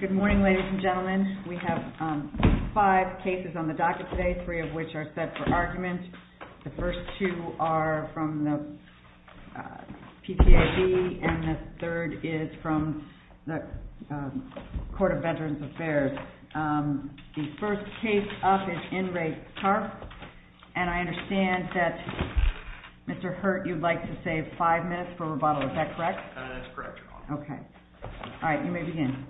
Good morning, ladies and gentlemen. We have five cases on the docket today, three of which are set for argument. The first two are from the PTAB and the third is from the Court of Veterans Affairs. The first case up is in Re Karpf and I understand that Mr. Hurt, you'd like to save five minutes for rebuttal, is that correct? That's correct, Your Honor. Okay. All right, you may begin.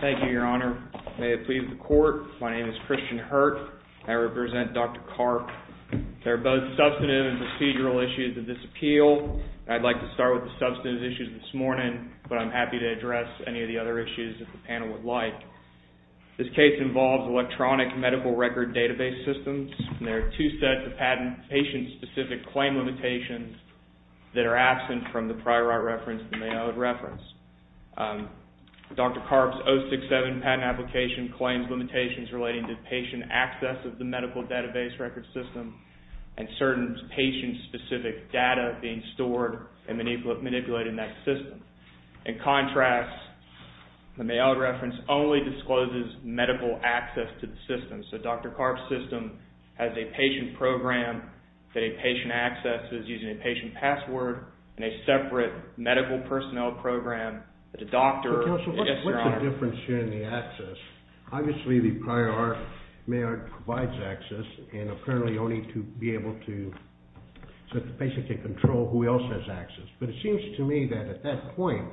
Thank you, Your Honor. May it please the Court, my name is Christian Hurt. I represent Dr. Karpf. There are both substantive and procedural issues of this appeal. I'd like to start with the substantive issues this morning, but I'm happy to address any of the other issues that the panel would like. This case involves electronic medical record database systems. There are two sets of patent patient-specific claim limitations that are absent from the prior reference that may I would reference. Dr. Karpf's 067 patent application claims limitations relating to patient access of the medical database record system and certain patient-specific data being stored in that system. In contrast, the May I would reference only discloses medical access to the system. So Dr. Karpf's system has a patient program that a patient accesses using a patient password and a separate medical personnel program that a doctor... Counsel, what's the difference here in the access? Obviously the prior May I would provides access and apparently only to be able to, so the patient can control who else has access. But it seems to me that at that point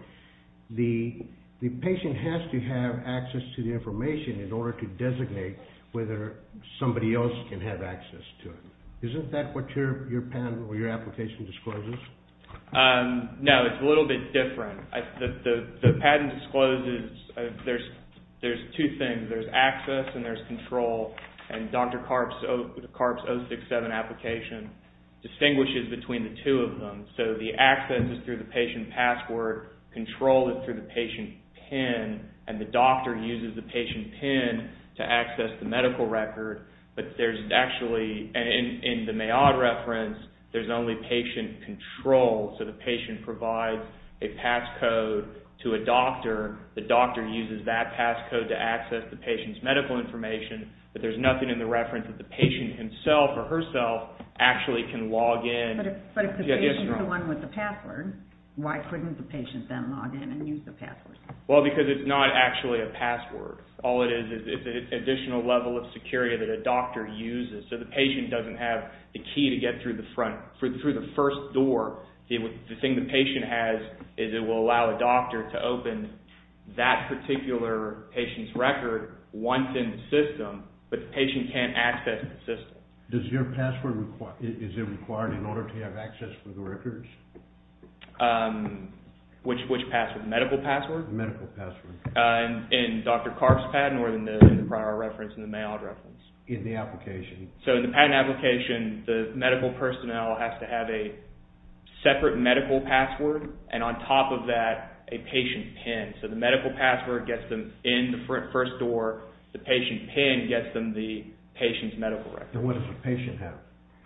the patient has to have access to the information in order to designate whether somebody else can have access to it. Isn't that what your patent or your application discloses? No, it's a little bit different. The patent discloses there's two things. There's access and there's control and Dr. Karpf's 067 application distinguishes between the two of them. So the access is through the patient password, control is through the patient PIN, and the doctor uses the patient PIN to access the medical record. But there's actually, in the May I would reference, there's only patient control. So the patient provides a passcode to a doctor, the doctor uses that passcode to access the patient's medical information, but there's nothing in the reference that the patient himself or herself actually can log in. But if the patient is the one with the password, why couldn't the patient then log in and use the password? Well, because it's not actually a password. All it is is an additional level of security that a doctor uses. So the patient doesn't have the key to get through the front, through the first door. The thing the patient has is it will allow a doctor to open that particular patient's record once in the system, but the patient doesn't have the key to open that particular patient's record once in the system. Does your password, is it required in order to have access for the records? Which password? The medical password? The medical password. In Dr. Karpf's patent or in the prior reference, in the May I would reference? In the application. So in the patent application, the medical personnel has to have a separate medical password and on top of that, a patient PIN. So the medical password gets them in the first door, the patient PIN gets them the patient's medical record. And what does the patient have?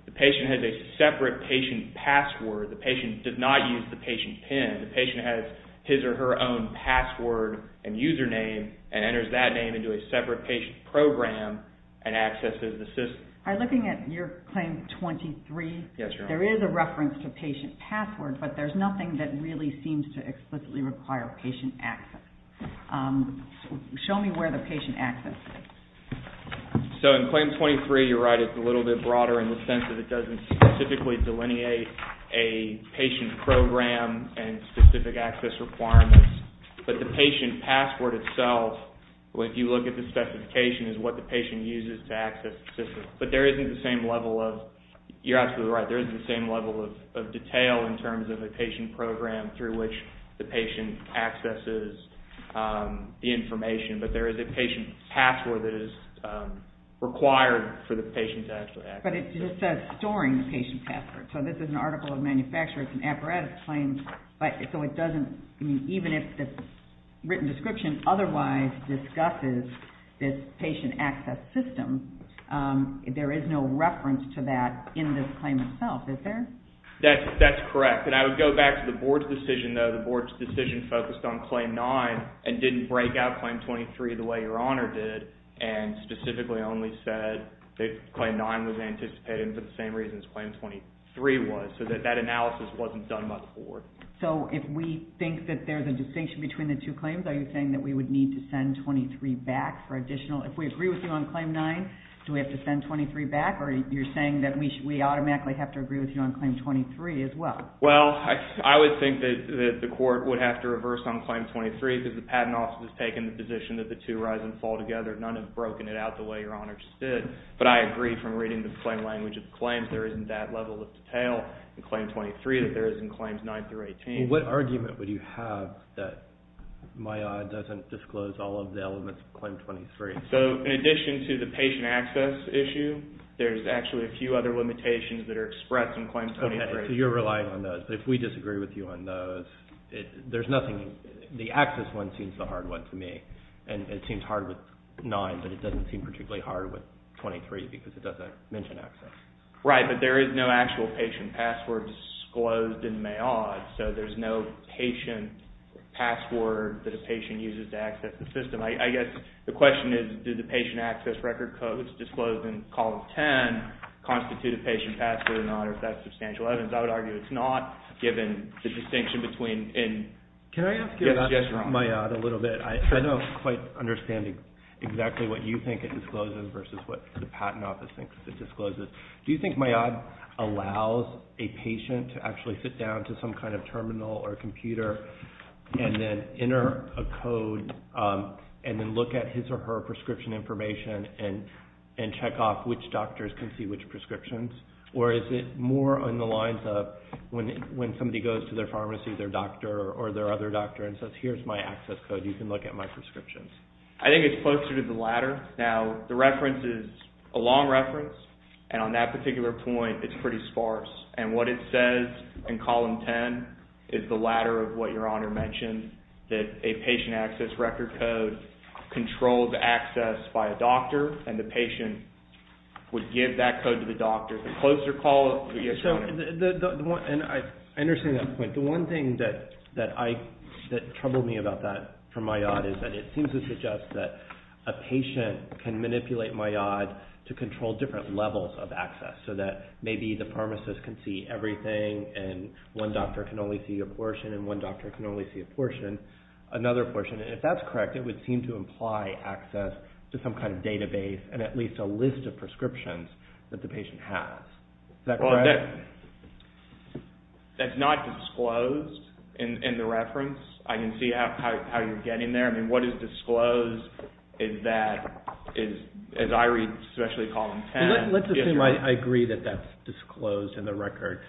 The patient has a separate patient password. The patient does not use the patient PIN. The patient has his or her own password and username and enters that name into a separate patient program and accesses the system. I'm looking at your claim 23. Yes, Your Honor. There is a reference to patient password, but there's nothing that really seems to explicitly require patient access. Show me where the patient access is. So in claim 23, you're right, it's a little bit broader in the sense that it doesn't specifically delineate a patient program and specific access requirements, but the patient password itself, if you look at the specification, is what the patient uses to access the system. But there isn't the same level of, you're absolutely right, there isn't the same level of detail in terms of a patient program through which the patient accesses the information, but there is a patient password that is required for the patient to actually access it. But it just says storing the patient password. So this is an article of manufacture. It's an apparatus claim, so it doesn't, even if the written description otherwise discusses this patient access system, there is no reference to that in this claim itself, is there? That's correct. And I would go back to the Board's decision, though. The Board's decision focused on claim 9 and didn't break out claim 23 the way Your Honor did, and specifically only said that claim 9 was anticipated for the same reasons claim 23 was, so that that analysis wasn't done by the Board. So if we think that there's a distinction between the two claims, are you saying that we would need to send 23 back for additional, if we agree with you on claim 9, do we have to send 23 back? Or you're saying that we automatically have to agree with you on claim 23 as well? Well, I would think that the Court would have to reverse on claim 23, because the Patent Office has taken the position that the two horizons fall together. None have broken it out the way Your Honor just did. But I agree from reading the plain language of the claims. There isn't that level of detail in claim 23 that there is in claims 9 through 18. Well, what argument would you have that my odd doesn't disclose all of the elements of claim 23? I disagree. So in addition to the patient access issue, there's actually a few other limitations that are expressed in claim 23. So you're relying on those. But if we disagree with you on those, there's nothing, the access one seems the hard one to me. And it seems hard with 9, but it doesn't seem particularly hard with 23, because it doesn't mention access. Right, but there is no actual patient password disclosed in my odds, so there's no patient password that a patient uses to access the system. And I guess the question is, did the patient access record codes disclosed in column 10 constitute a patient password or not, or if that's substantial evidence. I would argue it's not, given the distinction between. Can I ask you about my odd a little bit? I don't quite understand exactly what you think it discloses versus what the Patent Office thinks it discloses. Do you think my odd allows a patient to actually sit down to some kind of terminal or computer and then enter a code and then look at his or her prescription information and check off which doctors can see which prescriptions, or is it more on the lines of when somebody goes to their pharmacy, their doctor, or their other doctor and says, here's my access code, you can look at my prescriptions? I think it's closer to the latter. Now, the reference is a long reference, and on that particular point, it's pretty sparse. And what it says in column 10 is the latter of what Your Honor mentioned, that a patient access record code controls access by a doctor, and the patient would give that code to the doctor. Is it a closer call? I understand that point. The one thing that troubled me about that from my odd is that it seems to suggest so that maybe the pharmacist can see everything and one doctor can only see a portion and one doctor can only see a portion, another portion. And if that's correct, it would seem to imply access to some kind of database and at least a list of prescriptions that the patient has. Is that correct? That's not disclosed in the reference. I can see how you're getting there. I mean, what is disclosed is that, as I read, especially column 10. Let's assume I agree that that's disclosed in the record.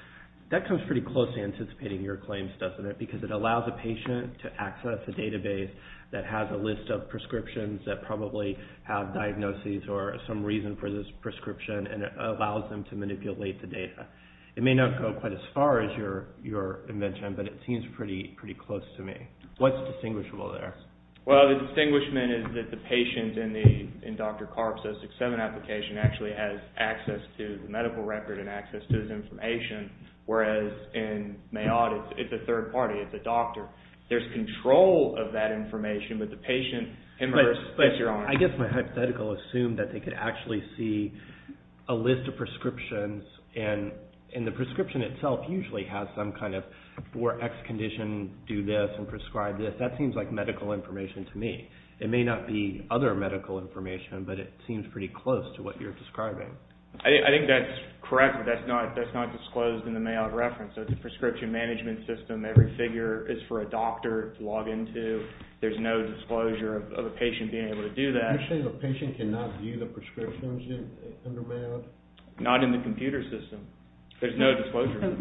That comes pretty close to anticipating your claims, doesn't it, because it allows a patient to access a database that has a list of prescriptions that probably have diagnoses or some reason for this prescription, and it allows them to manipulate the data. It may not go quite as far as your invention, but it seems pretty close to me. What's distinguishable there? Well, the distinguishment is that the patient in Dr. Karp's 067 application actually has access to the medical record and access to his information, whereas in Mayotte it's a third party, it's a doctor. There's control of that information, but the patient in hers is your honor. But I guess my hypothetical assumed that they could actually see a list of prescriptions, and the prescription itself usually has some kind of, for X condition, do this and prescribe this. That seems like medical information to me. It may not be other medical information, but it seems pretty close to what you're describing. I think that's correct, but that's not disclosed in the Mayotte reference. It's a prescription management system. Every figure is for a doctor to log into. There's no disclosure of a patient being able to do that. You're saying the patient cannot view the prescriptions under Mayotte? Not in the computer system. There's no disclosure.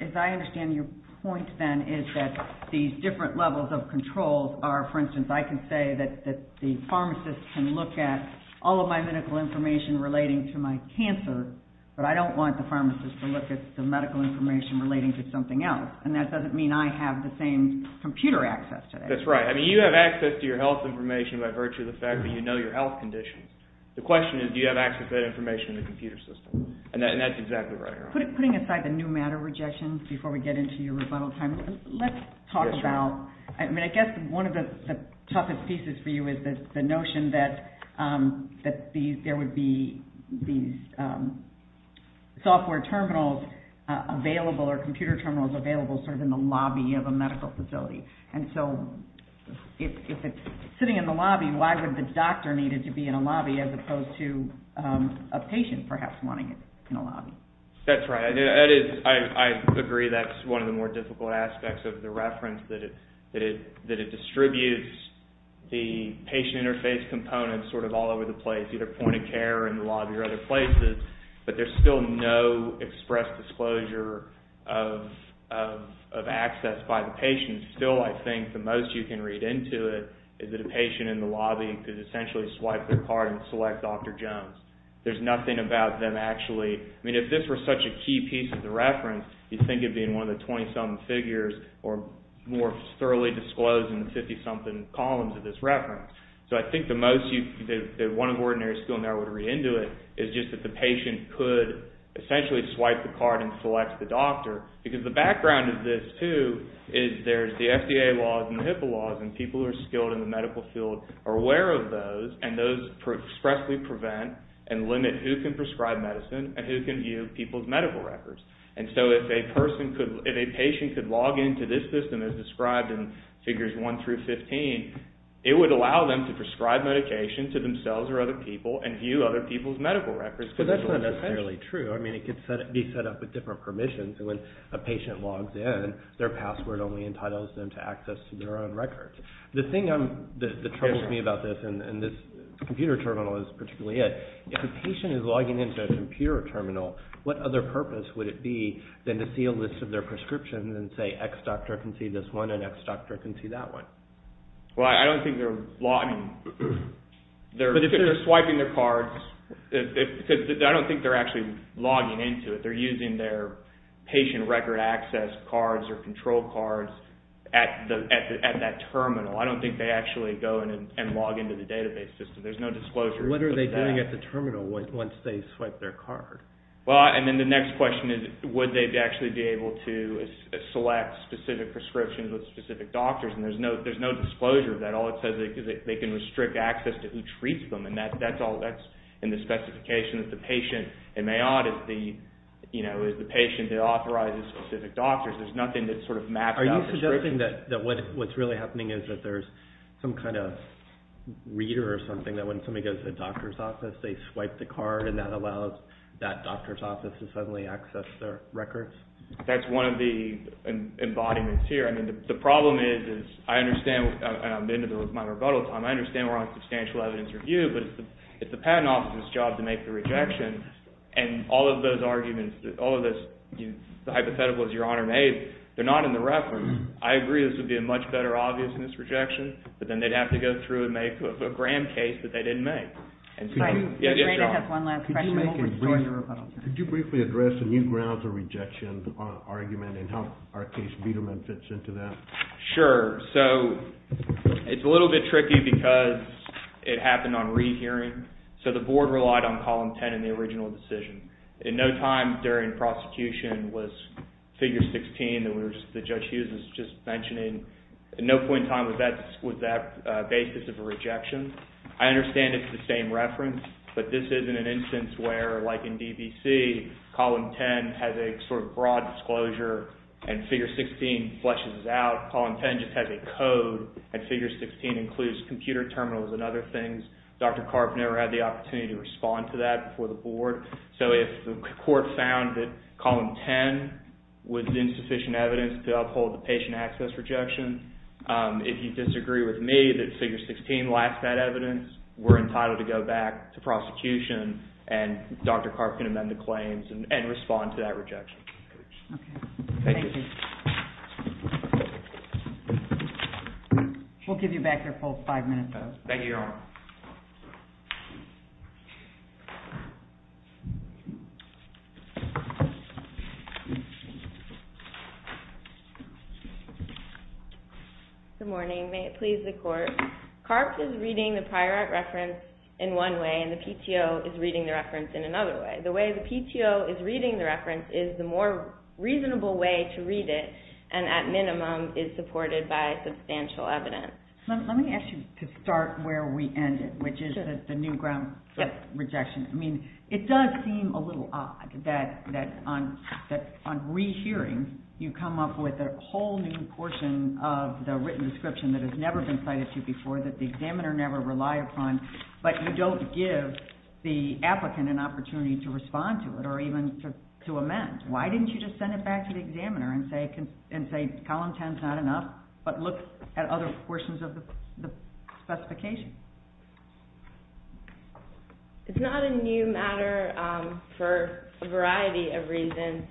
As I understand your point, then, is that these different levels of controls are, for instance, I can say that the pharmacist can look at all of my medical information relating to my cancer, but I don't want the pharmacist to look at the medical information relating to something else, and that doesn't mean I have the same computer access to that. That's right. You have access to your health information by virtue of the fact that you know your health conditions. The question is do you have access to that information in the computer system, and that's exactly right. Putting aside the new matter rejections before we get into your rebuttal time, let's talk about, I mean, I guess one of the toughest pieces for you is the notion that there would be these software terminals available or computer terminals available sort of in the lobby of a medical facility, and so if it's sitting in the lobby, why would the doctor need it to be in a lobby as opposed to a patient perhaps wanting it in a lobby? That's right. I agree that's one of the more difficult aspects of the reference, that it distributes the patient interface components sort of all over the place, either point of care in the lobby or other places, but there's still no express disclosure of access by the patient. Still, I think the most you can read into it is that a patient in the lobby could essentially swipe their card and select Dr. Jones. There's nothing about them actually. I mean, if this were such a key piece of the reference, you'd think it would be in one of the 20-something figures or more thoroughly disclosed in the 50-something columns of this reference. So I think the most that one of the ordinary people in there would read into it is just that the patient could essentially swipe the card and select the doctor because the background of this, too, is there's the FDA laws and the HIPAA laws, and people who are skilled in the medical field are aware of those, and those expressly prevent and limit who can prescribe medicine and who can view people's medical records. And so if a patient could log into this system as described in figures 1 through 15, it would allow them to prescribe medication to themselves or other people and view other people's medical records. But that's not necessarily true. I mean, it could be set up with different permissions, and when a patient logs in, their password only entitles them to access to their own records. The thing that troubles me about this, and this computer terminal is particularly it, if a patient is logging into a computer terminal, what other purpose would it be than to see a list of their prescriptions and say X doctor can see this one and X doctor can see that one? Well, I don't think they're swiping their cards. I don't think they're actually logging into it. They're using their patient record access cards or control cards at that terminal. I don't think they actually go and log into the database system. There's no disclosure. What are they doing at the terminal once they swipe their card? Well, and then the next question is would they actually be able to select specific prescriptions with specific doctors? And there's no disclosure of that. All it says is they can restrict access to who treats them, and that's in the specification that the patient in Mayotte is the patient that authorizes specific doctors. There's nothing that's sort of mapped out. Are you suggesting that what's really happening is that there's some kind of reader or something that when somebody goes to the doctor's office, they swipe the card, and that allows that doctor's office to suddenly access their records? That's one of the embodiments here. I mean, the problem is I understand, and I'm into my rebuttal time, so I understand we're on substantial evidence review, but it's the patent officer's job to make the rejection, and all of those arguments, all of the hypotheticals your Honor made, they're not in the reference. I agree this would be a much better obviousness rejection, but then they'd have to go through and make a Graham case that they didn't make. Could you briefly address the new grounds of rejection argument and how our case Biedermann fits into that? Sure. So it's a little bit tricky because it happened on rehearing. So the board relied on Column 10 in the original decision. In no time during prosecution was Figure 16 that Judge Hughes was just mentioning, at no point in time was that basis of a rejection. I understand it's the same reference, but this isn't an instance where, like in DBC, Column 10 has a sort of broad disclosure, and Figure 16 fleshes it out. Column 10 just has a code, and Figure 16 includes computer terminals and other things. Dr. Karp never had the opportunity to respond to that before the board. So if the court found that Column 10 was insufficient evidence to uphold the patient access rejection, if you disagree with me that Figure 16 lacks that evidence, we're entitled to go back to prosecution and Dr. Karp can amend the claims and respond to that rejection. Okay. Thank you. We'll give you back your full five minutes. Thank you, Your Honor. Good morning. May it please the Court. Karp is reading the prior act reference in one way, and the PTO is reading the reference in another way. The way the PTO is reading the reference is the more reasonable way to read it, and at minimum is supported by substantial evidence. Let me ask you to start where we ended, which is the new grounds for rejection. I mean, it does seem a little odd that on rehearing you come up with a whole new portion of the written description that has never been cited to you before, that the examiner never relied upon, but you don't give the applicant an opportunity to respond to it or even to amend. Why didn't you just send it back to the examiner and say, Column 10 is not enough, but look at other portions of the specification? It's not a new matter for a variety of reasons.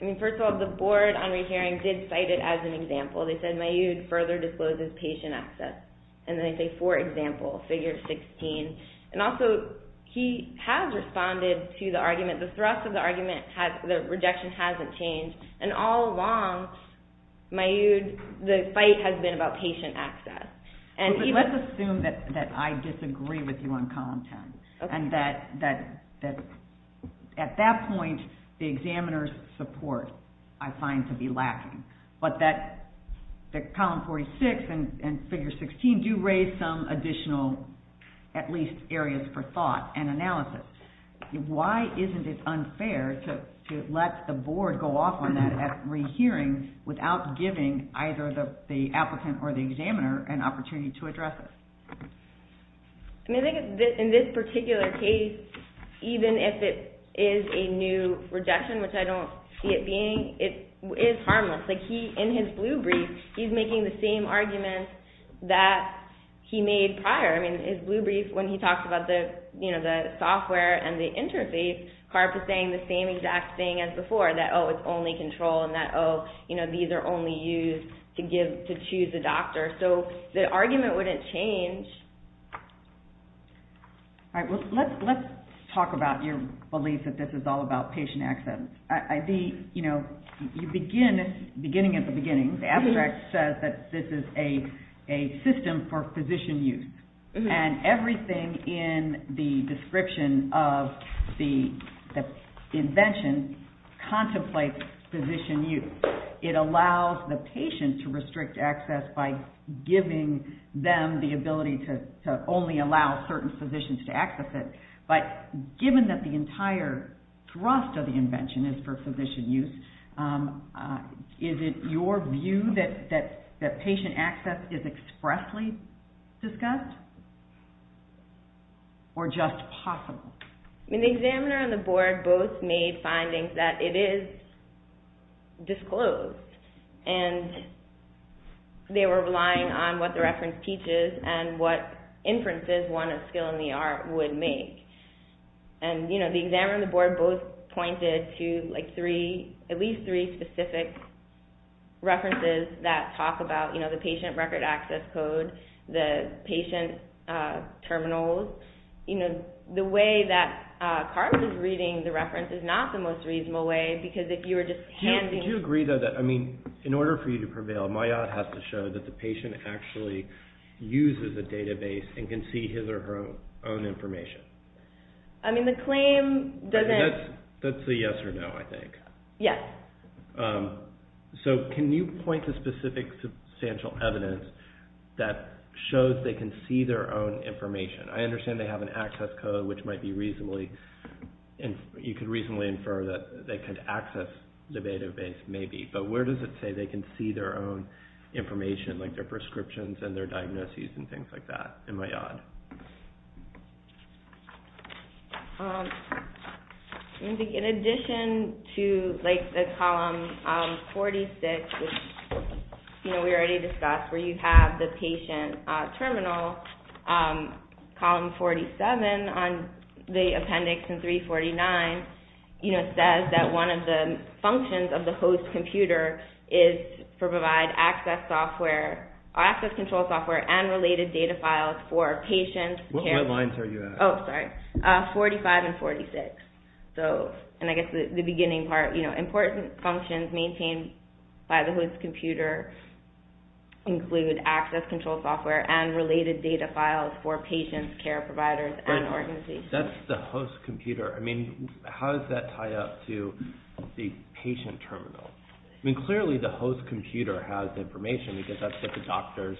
I mean, first of all, the Board on Rehearing did cite it as an example. They said Mayood further discloses patient access. And then they say, for example, Figure 16. And also, he has responded to the argument. The thrust of the argument, the rejection hasn't changed. And all along, Mayood, the fight has been about patient access. Let's assume that I disagree with you on Column 10, and that at that point the examiner's support I find to be lacking, but that Column 46 and Figure 16 do raise some additional, at least areas for thought and analysis. Why isn't it unfair to let the Board go off on that at rehearing without giving either the applicant or the examiner an opportunity to address it? I think in this particular case, even if it is a new rejection, which I don't see it being, it is harmless. In his blue brief, he's making the same arguments that he made prior. In his blue brief, when he talks about the software and the interface, Karp is saying the same exact thing as before, that, oh, it's only control, and that, oh, these are only used to choose a doctor. So the argument wouldn't change. All right, well, let's talk about your belief that this is all about patient access. You know, beginning at the beginning, the abstract says that this is a system for physician use, and everything in the description of the invention contemplates physician use. It allows the patient to restrict access by giving them the ability to only allow certain physicians to access it. But given that the entire thrust of the invention is for physician use, is it your view that patient access is expressly discussed or just possible? The examiner and the Board both made findings that it is disclosed, and they were relying on what the reference teaches and what inferences one of skill in the art would make. The examiner and the Board both pointed to at least three specific references that talk about the patient record access code, the patient terminals. The way that Karp is reading the reference is not the most reasonable way, because if you were just handing... Do you agree, though, that, I mean, in order for you to prevail, my odd has to show that the patient actually uses a database and can see his or her own information? I mean, the claim doesn't... That's a yes or no, I think. Yes. So can you point to specific substantial evidence that shows they can see their own information? I understand they have an access code, which might be reasonably, and you could reasonably infer that they can access the database, maybe. But where does it say they can see their own information, like their prescriptions and their diagnoses and things like that? Am I odd? In addition to, like, the column 46, which we already discussed, where you have the patient terminal, column 47 on the appendix in 349, you know, says that one of the functions of the host computer is to provide access control software and related data files for patients... What lines are you at? Oh, sorry. 45 and 46. So, and I guess the beginning part, you know, important functions maintained by the host computer include access control software and related data files for patients, care providers, and organizations. That's the host computer. I mean, how does that tie up to the patient terminal? I mean, clearly the host computer has information, because that's what the doctors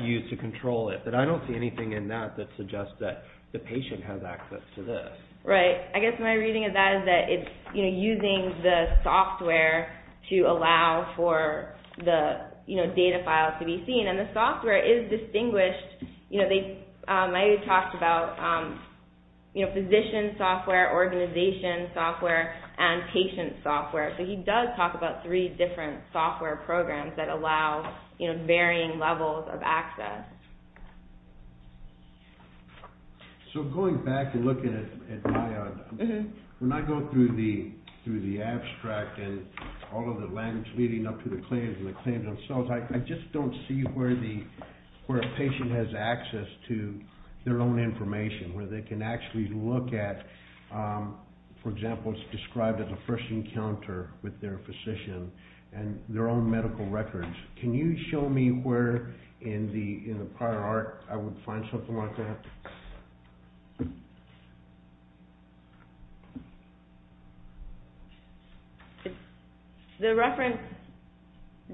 use to control it. But I don't see anything in that that suggests that the patient has access to this. Right. I guess my reading of that is that it's, you know, data files to be seen. And the software is distinguished. You know, they've already talked about, you know, physician software, organization software, and patient software. So he does talk about three different software programs that allow, you know, varying levels of access. So going back and looking at IOD, when I go through the abstract and all of the language leading up to the claims themselves, I just don't see where a patient has access to their own information, where they can actually look at, for example, it's described as a first encounter with their physician and their own medical records. Can you show me where in the prior art I would find something like that? The reference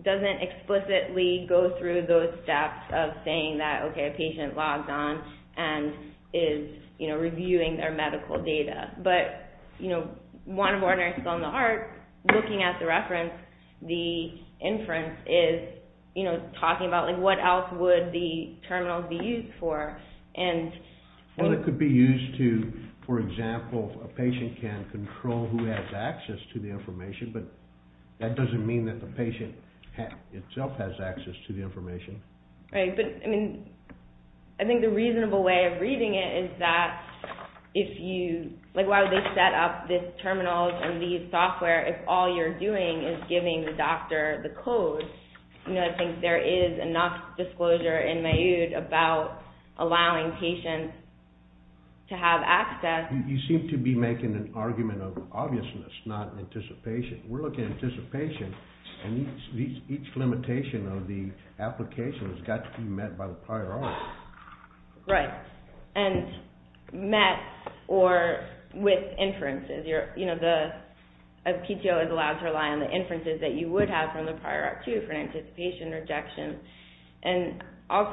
doesn't explicitly go through those steps of saying that, okay, a patient logged on and is, you know, reviewing their medical data. But, you know, one of our nurses on the heart, looking at the reference, the inference is, you know, talking about, like, what else would the terminals be used for? Well, it could be used to, for example, a patient can control who has access to the information, but that doesn't mean that the patient itself has access to the information. Right, but, I mean, I think the reasonable way of reading it is that if you, like, why would they set up these terminals and these software if all you're doing is giving the doctor the code? You know, I think there is enough disclosure in my IOD about allowing patients to have access. You seem to be making an argument of obviousness, not anticipation. We're looking at anticipation, and each limitation of the application has got to be met by the prior art. Right, and met or with inferences. You know, the PTO is allowed to rely on the inferences that you would have from the prior art, too, for an anticipation rejection. That's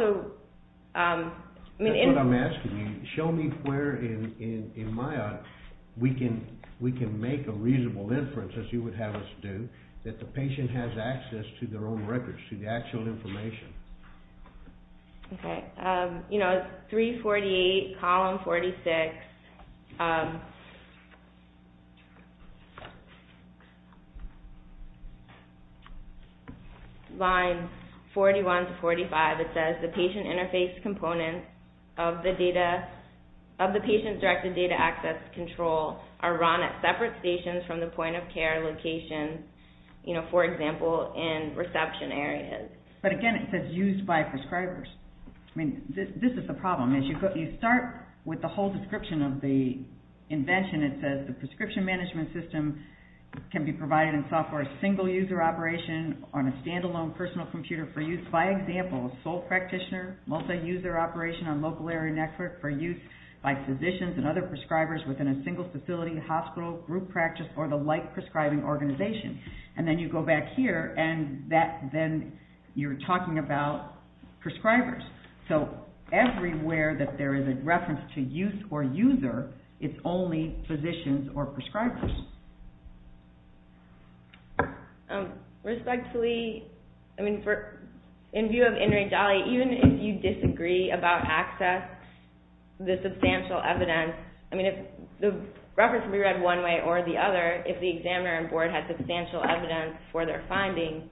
what I'm asking you. Show me where in my IOD we can make a reasonable inference, as you would have us do, that the patient has access to their own records, to the actual information. Okay, you know, 348, column 46, line 41 to 45, it says, the patient interface components of the patient-directed data access control are run at separate stations from the point-of-care locations, you know, for example, in reception areas. But again, it says used by prescribers. I mean, this is the problem. You start with the whole description of the invention. It says the prescription management system can be provided in software, single-user operation on a standalone personal computer for use, by example, a sole practitioner, multi-user operation on local area network for use by physicians and other prescribers within a single facility, hospital, group practice, or the like prescribing organization. And then you go back here, and that, then you're talking about prescribers. So everywhere that there is a reference to use or user, it's only physicians or prescribers. Respectfully, I mean, in view of Enrique Dali, even if you disagree about access, the substantial evidence, I mean, the reference can be read one way or the other, if the examiner and board have substantial evidence for their findings,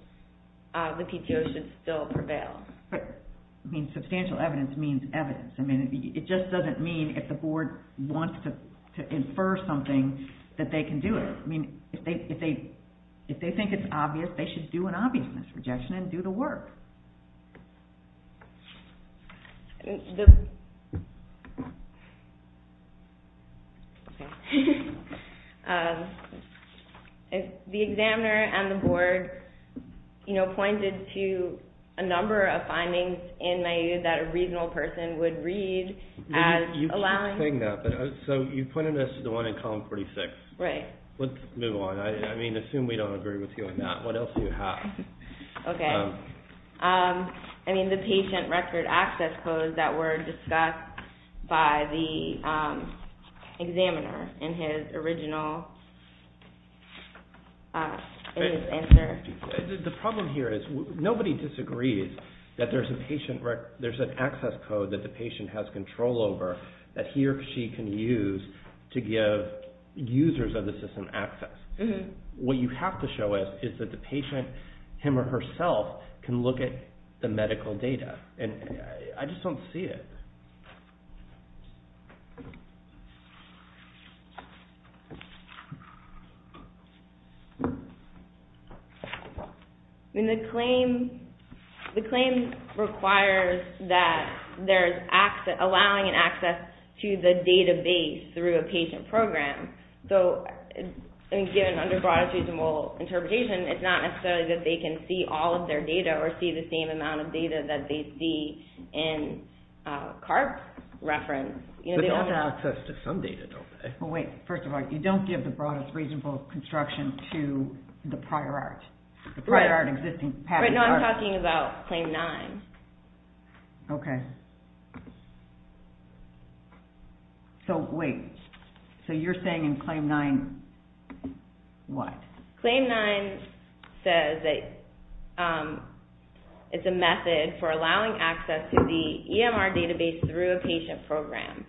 the PTO should still prevail. But, I mean, substantial evidence means evidence. I mean, it just doesn't mean if the board wants to infer something that they can do it. I mean, if they think it's obvious, they should do an obviousness rejection and do the work. The... The examiner and the board, you know, pointed to a number of findings in Mayood that a reasonable person would read as allowing... So you pointed us to the one in column 46. Right. Let's move on. I mean, assume we don't agree with you on that. What else do you have? Okay. Okay. I mean, the patient record access codes that were discussed by the examiner in his original... The problem here is nobody disagrees that there's an access code that the patient has control over that he or she can use to give users of the system access. What you have to show us is that the patient, him or herself, can look at the medical data. And I just don't see it. I mean, the claim requires that there's access... allowing an access to the database through a patient program. So, I mean, given under broadest reasonable interpretation, it's not necessarily that they can see all of their data or see the same amount of data that they see in CARP reference. But they all have access to some data, don't they? Well, wait. First of all, you don't give the broadest reasonable construction to the prior art. Right. The prior art existing... Right now I'm talking about claim nine. Okay. So, wait. So you're saying in claim nine, what? Claim nine says that it's a method for allowing access to the EMR database through a patient program.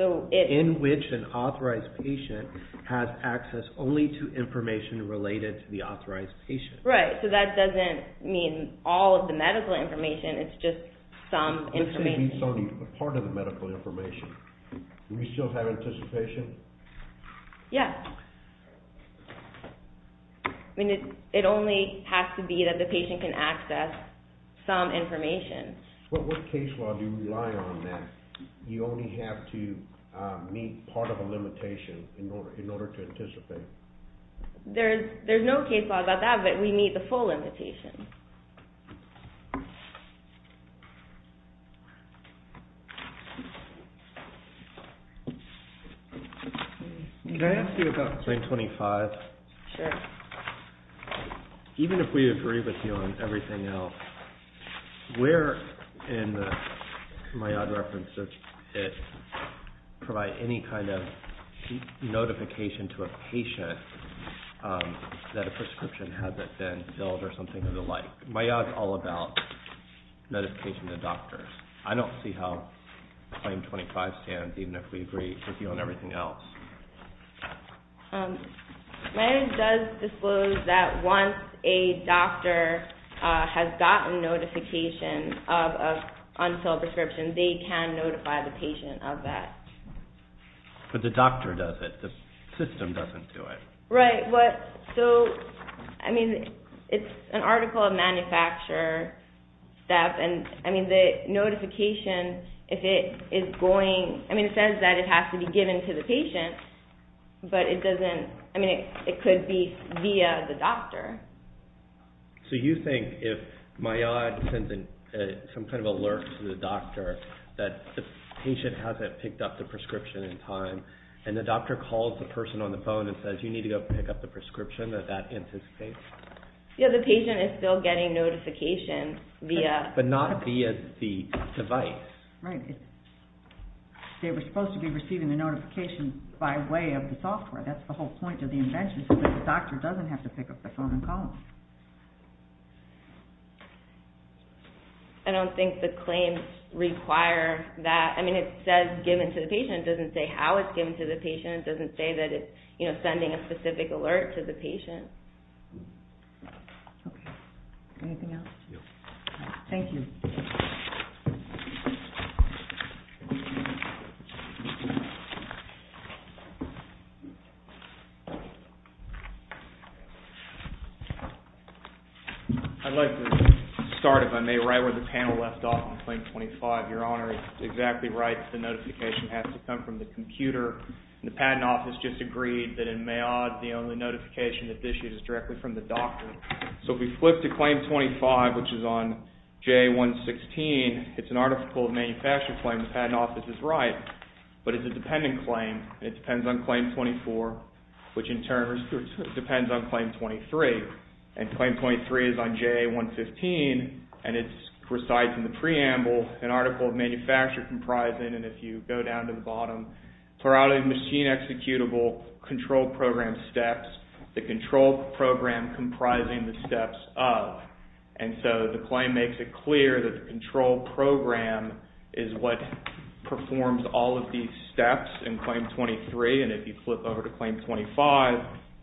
In which an authorized patient has access only to information related to the authorized patient. Right. So that doesn't mean all of the medical information. It's just some information. You're saying it's only a part of the medical information. Do we still have anticipation? Yes. I mean, it only has to be that the patient can access some information. What case law do you rely on then? You only have to meet part of a limitation in order to anticipate. There's no case law about that, but we meet the full limitation. Can I ask you about claim 25? Sure. Even if we agree with you on everything else, where in the MIAD reference does it provide any kind of notification to a patient that a prescription hasn't been filled or something of the like? MIAD is all about notification to doctors. I don't see how claim 25 stands even if we agree with you on everything else. MIAD does disclose that once a doctor has gotten notification of an unfilled prescription, they can notify the patient of that. But the doctor does it. The system doesn't do it. Right. It's an article of manufacture. The notification says that it has to be given to the patient, but it could be via the doctor. So you think if MIAD sends some kind of alert to the doctor that the patient hasn't picked up the prescription in time and the doctor calls the person on the phone and says, you need to go pick up the prescription, that that anticipates? Yeah, the patient is still getting notification via... But not via the device. Right. They were supposed to be receiving the notification by way of the software. That's the whole point of the invention, so that the doctor doesn't have to pick up the phone and call them. I don't think the claims require that. I mean, it says given to the patient. It doesn't say how it's given to the patient. It doesn't say that it's sending a specific alert to the patient. Okay. Anything else? No. Thank you. I'd like to start, if I may, right where the panel left off on claim 25. Your Honor is exactly right. The notification has to come from the computer. The Patent Office just agreed that in Mayod, the only notification that's issued is directly from the doctor. So if we flip to claim 25, which is on JA-116, it's an article of manufacture claim. The Patent Office is right. But it's a dependent claim, and it depends on claim 24, which in turn depends on claim 23. And claim 23 is on JA-115, and it resides in the preamble, an article of manufacture comprising, and if you go down to the bottom, routing machine executable control program steps, the control program comprising the steps of. And so the claim makes it clear that the control program is what performs all of these steps in claim 23. And if you flip over to claim 25,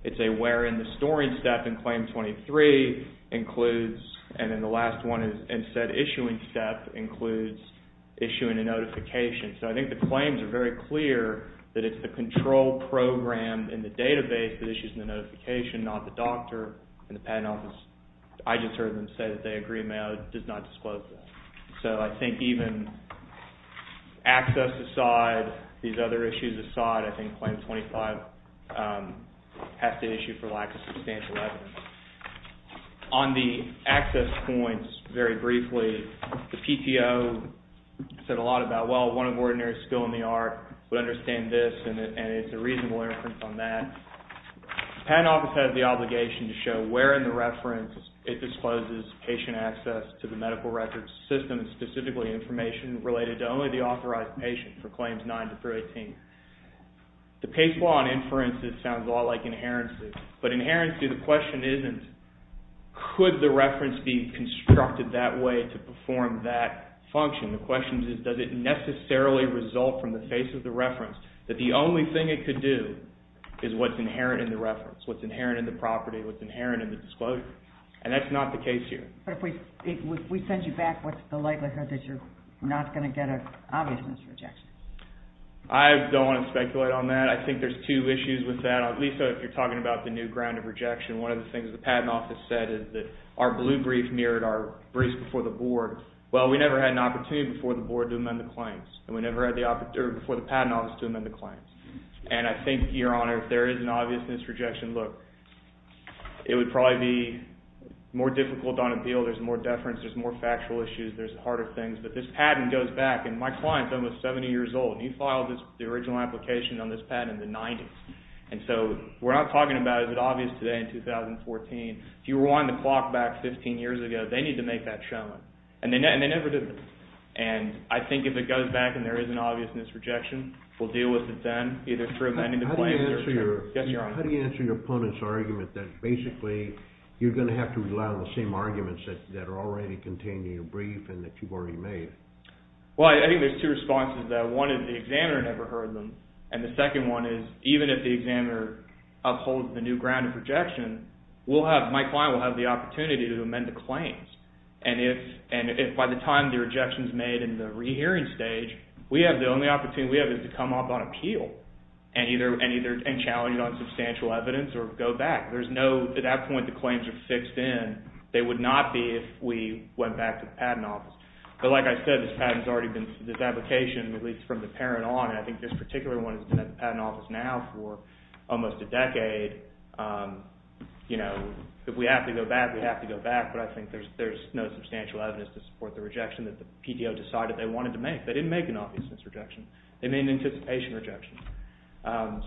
it's a where in the storing step in claim 23 includes, and then the last one is in said issuing step includes issuing a notification. So I think the claims are very clear that it's the control program in the database that issues the notification, not the doctor. And the Patent Office, I just heard them say that they agree, Mayod does not disclose that. So I think even access aside, these other issues aside, I think claim 25 has to issue for lack of substantial evidence. On the access points, very briefly, the PTO said a lot about, well, one of ordinary skill in the art would understand this, and it's a reasonable inference on that. The Patent Office has the obligation to show where in the reference it discloses patient access to the medical records system, specifically information related to only the authorized patient for claims 9 through 18. The PACE law on inferences sounds a lot like inherency, but inherency, the question isn't, could the reference be constructed that way to perform that function? The question is, does it necessarily result from the face of the reference that the only thing it could do is what's inherent in the reference, what's inherent in the property, what's inherent in the disclosure? And that's not the case here. But if we send you back, what's the likelihood that you're not going to get an obvious rejection? I don't want to speculate on that. I think there's two issues with that. Lisa, if you're talking about the new ground of rejection, one of the things the Patent Office said is that our blue brief mirrored our briefs before the Board. Well, we never had an opportunity before the Board to amend the claims, and we never had the opportunity before the Patent Office to amend the claims. And I think, Your Honor, if there is an obviousness rejection, look, it would probably be more difficult on appeal. There's more deference. There's more factual issues. There's harder things. But this patent goes back, and my client's almost 70 years old, and he filed the original application on this patent in the 90s. And so we're not talking about is it obvious today in 2014. If you were wanting to clock back 15 years ago, they need to make that shown. And they never did. And I think if it goes back and there is an obviousness rejection, we'll deal with it then, either through amending the claims. How do you answer your opponent's argument that basically you're going to have to rely on the same arguments that are already contained in your brief and that you've already made? Well, I think there's two responses to that. One is the examiner never heard them. And the second one is even if the examiner upholds the new ground of rejection, my client will have the opportunity to amend the claims. And if by the time the rejection is made in the rehearing stage, the only opportunity we have is to come up on appeal and challenge it on substantial evidence or go back. At that point, the claims are fixed in. They would not be if we went back to the patent office. But like I said, this patent has already been, this application, at least from the parent on, I think this particular one has been at the patent office now for almost a decade. If we have to go back, we have to go back, but I think there's no substantial evidence to support the rejection that the PTO decided they wanted to make. They didn't make an obviousness rejection. They made an anticipation rejection.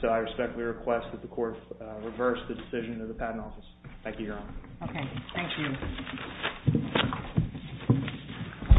So I respectfully request that the court reverse the decision of the patent office. Thank you, Your Honor. Okay. Thank you.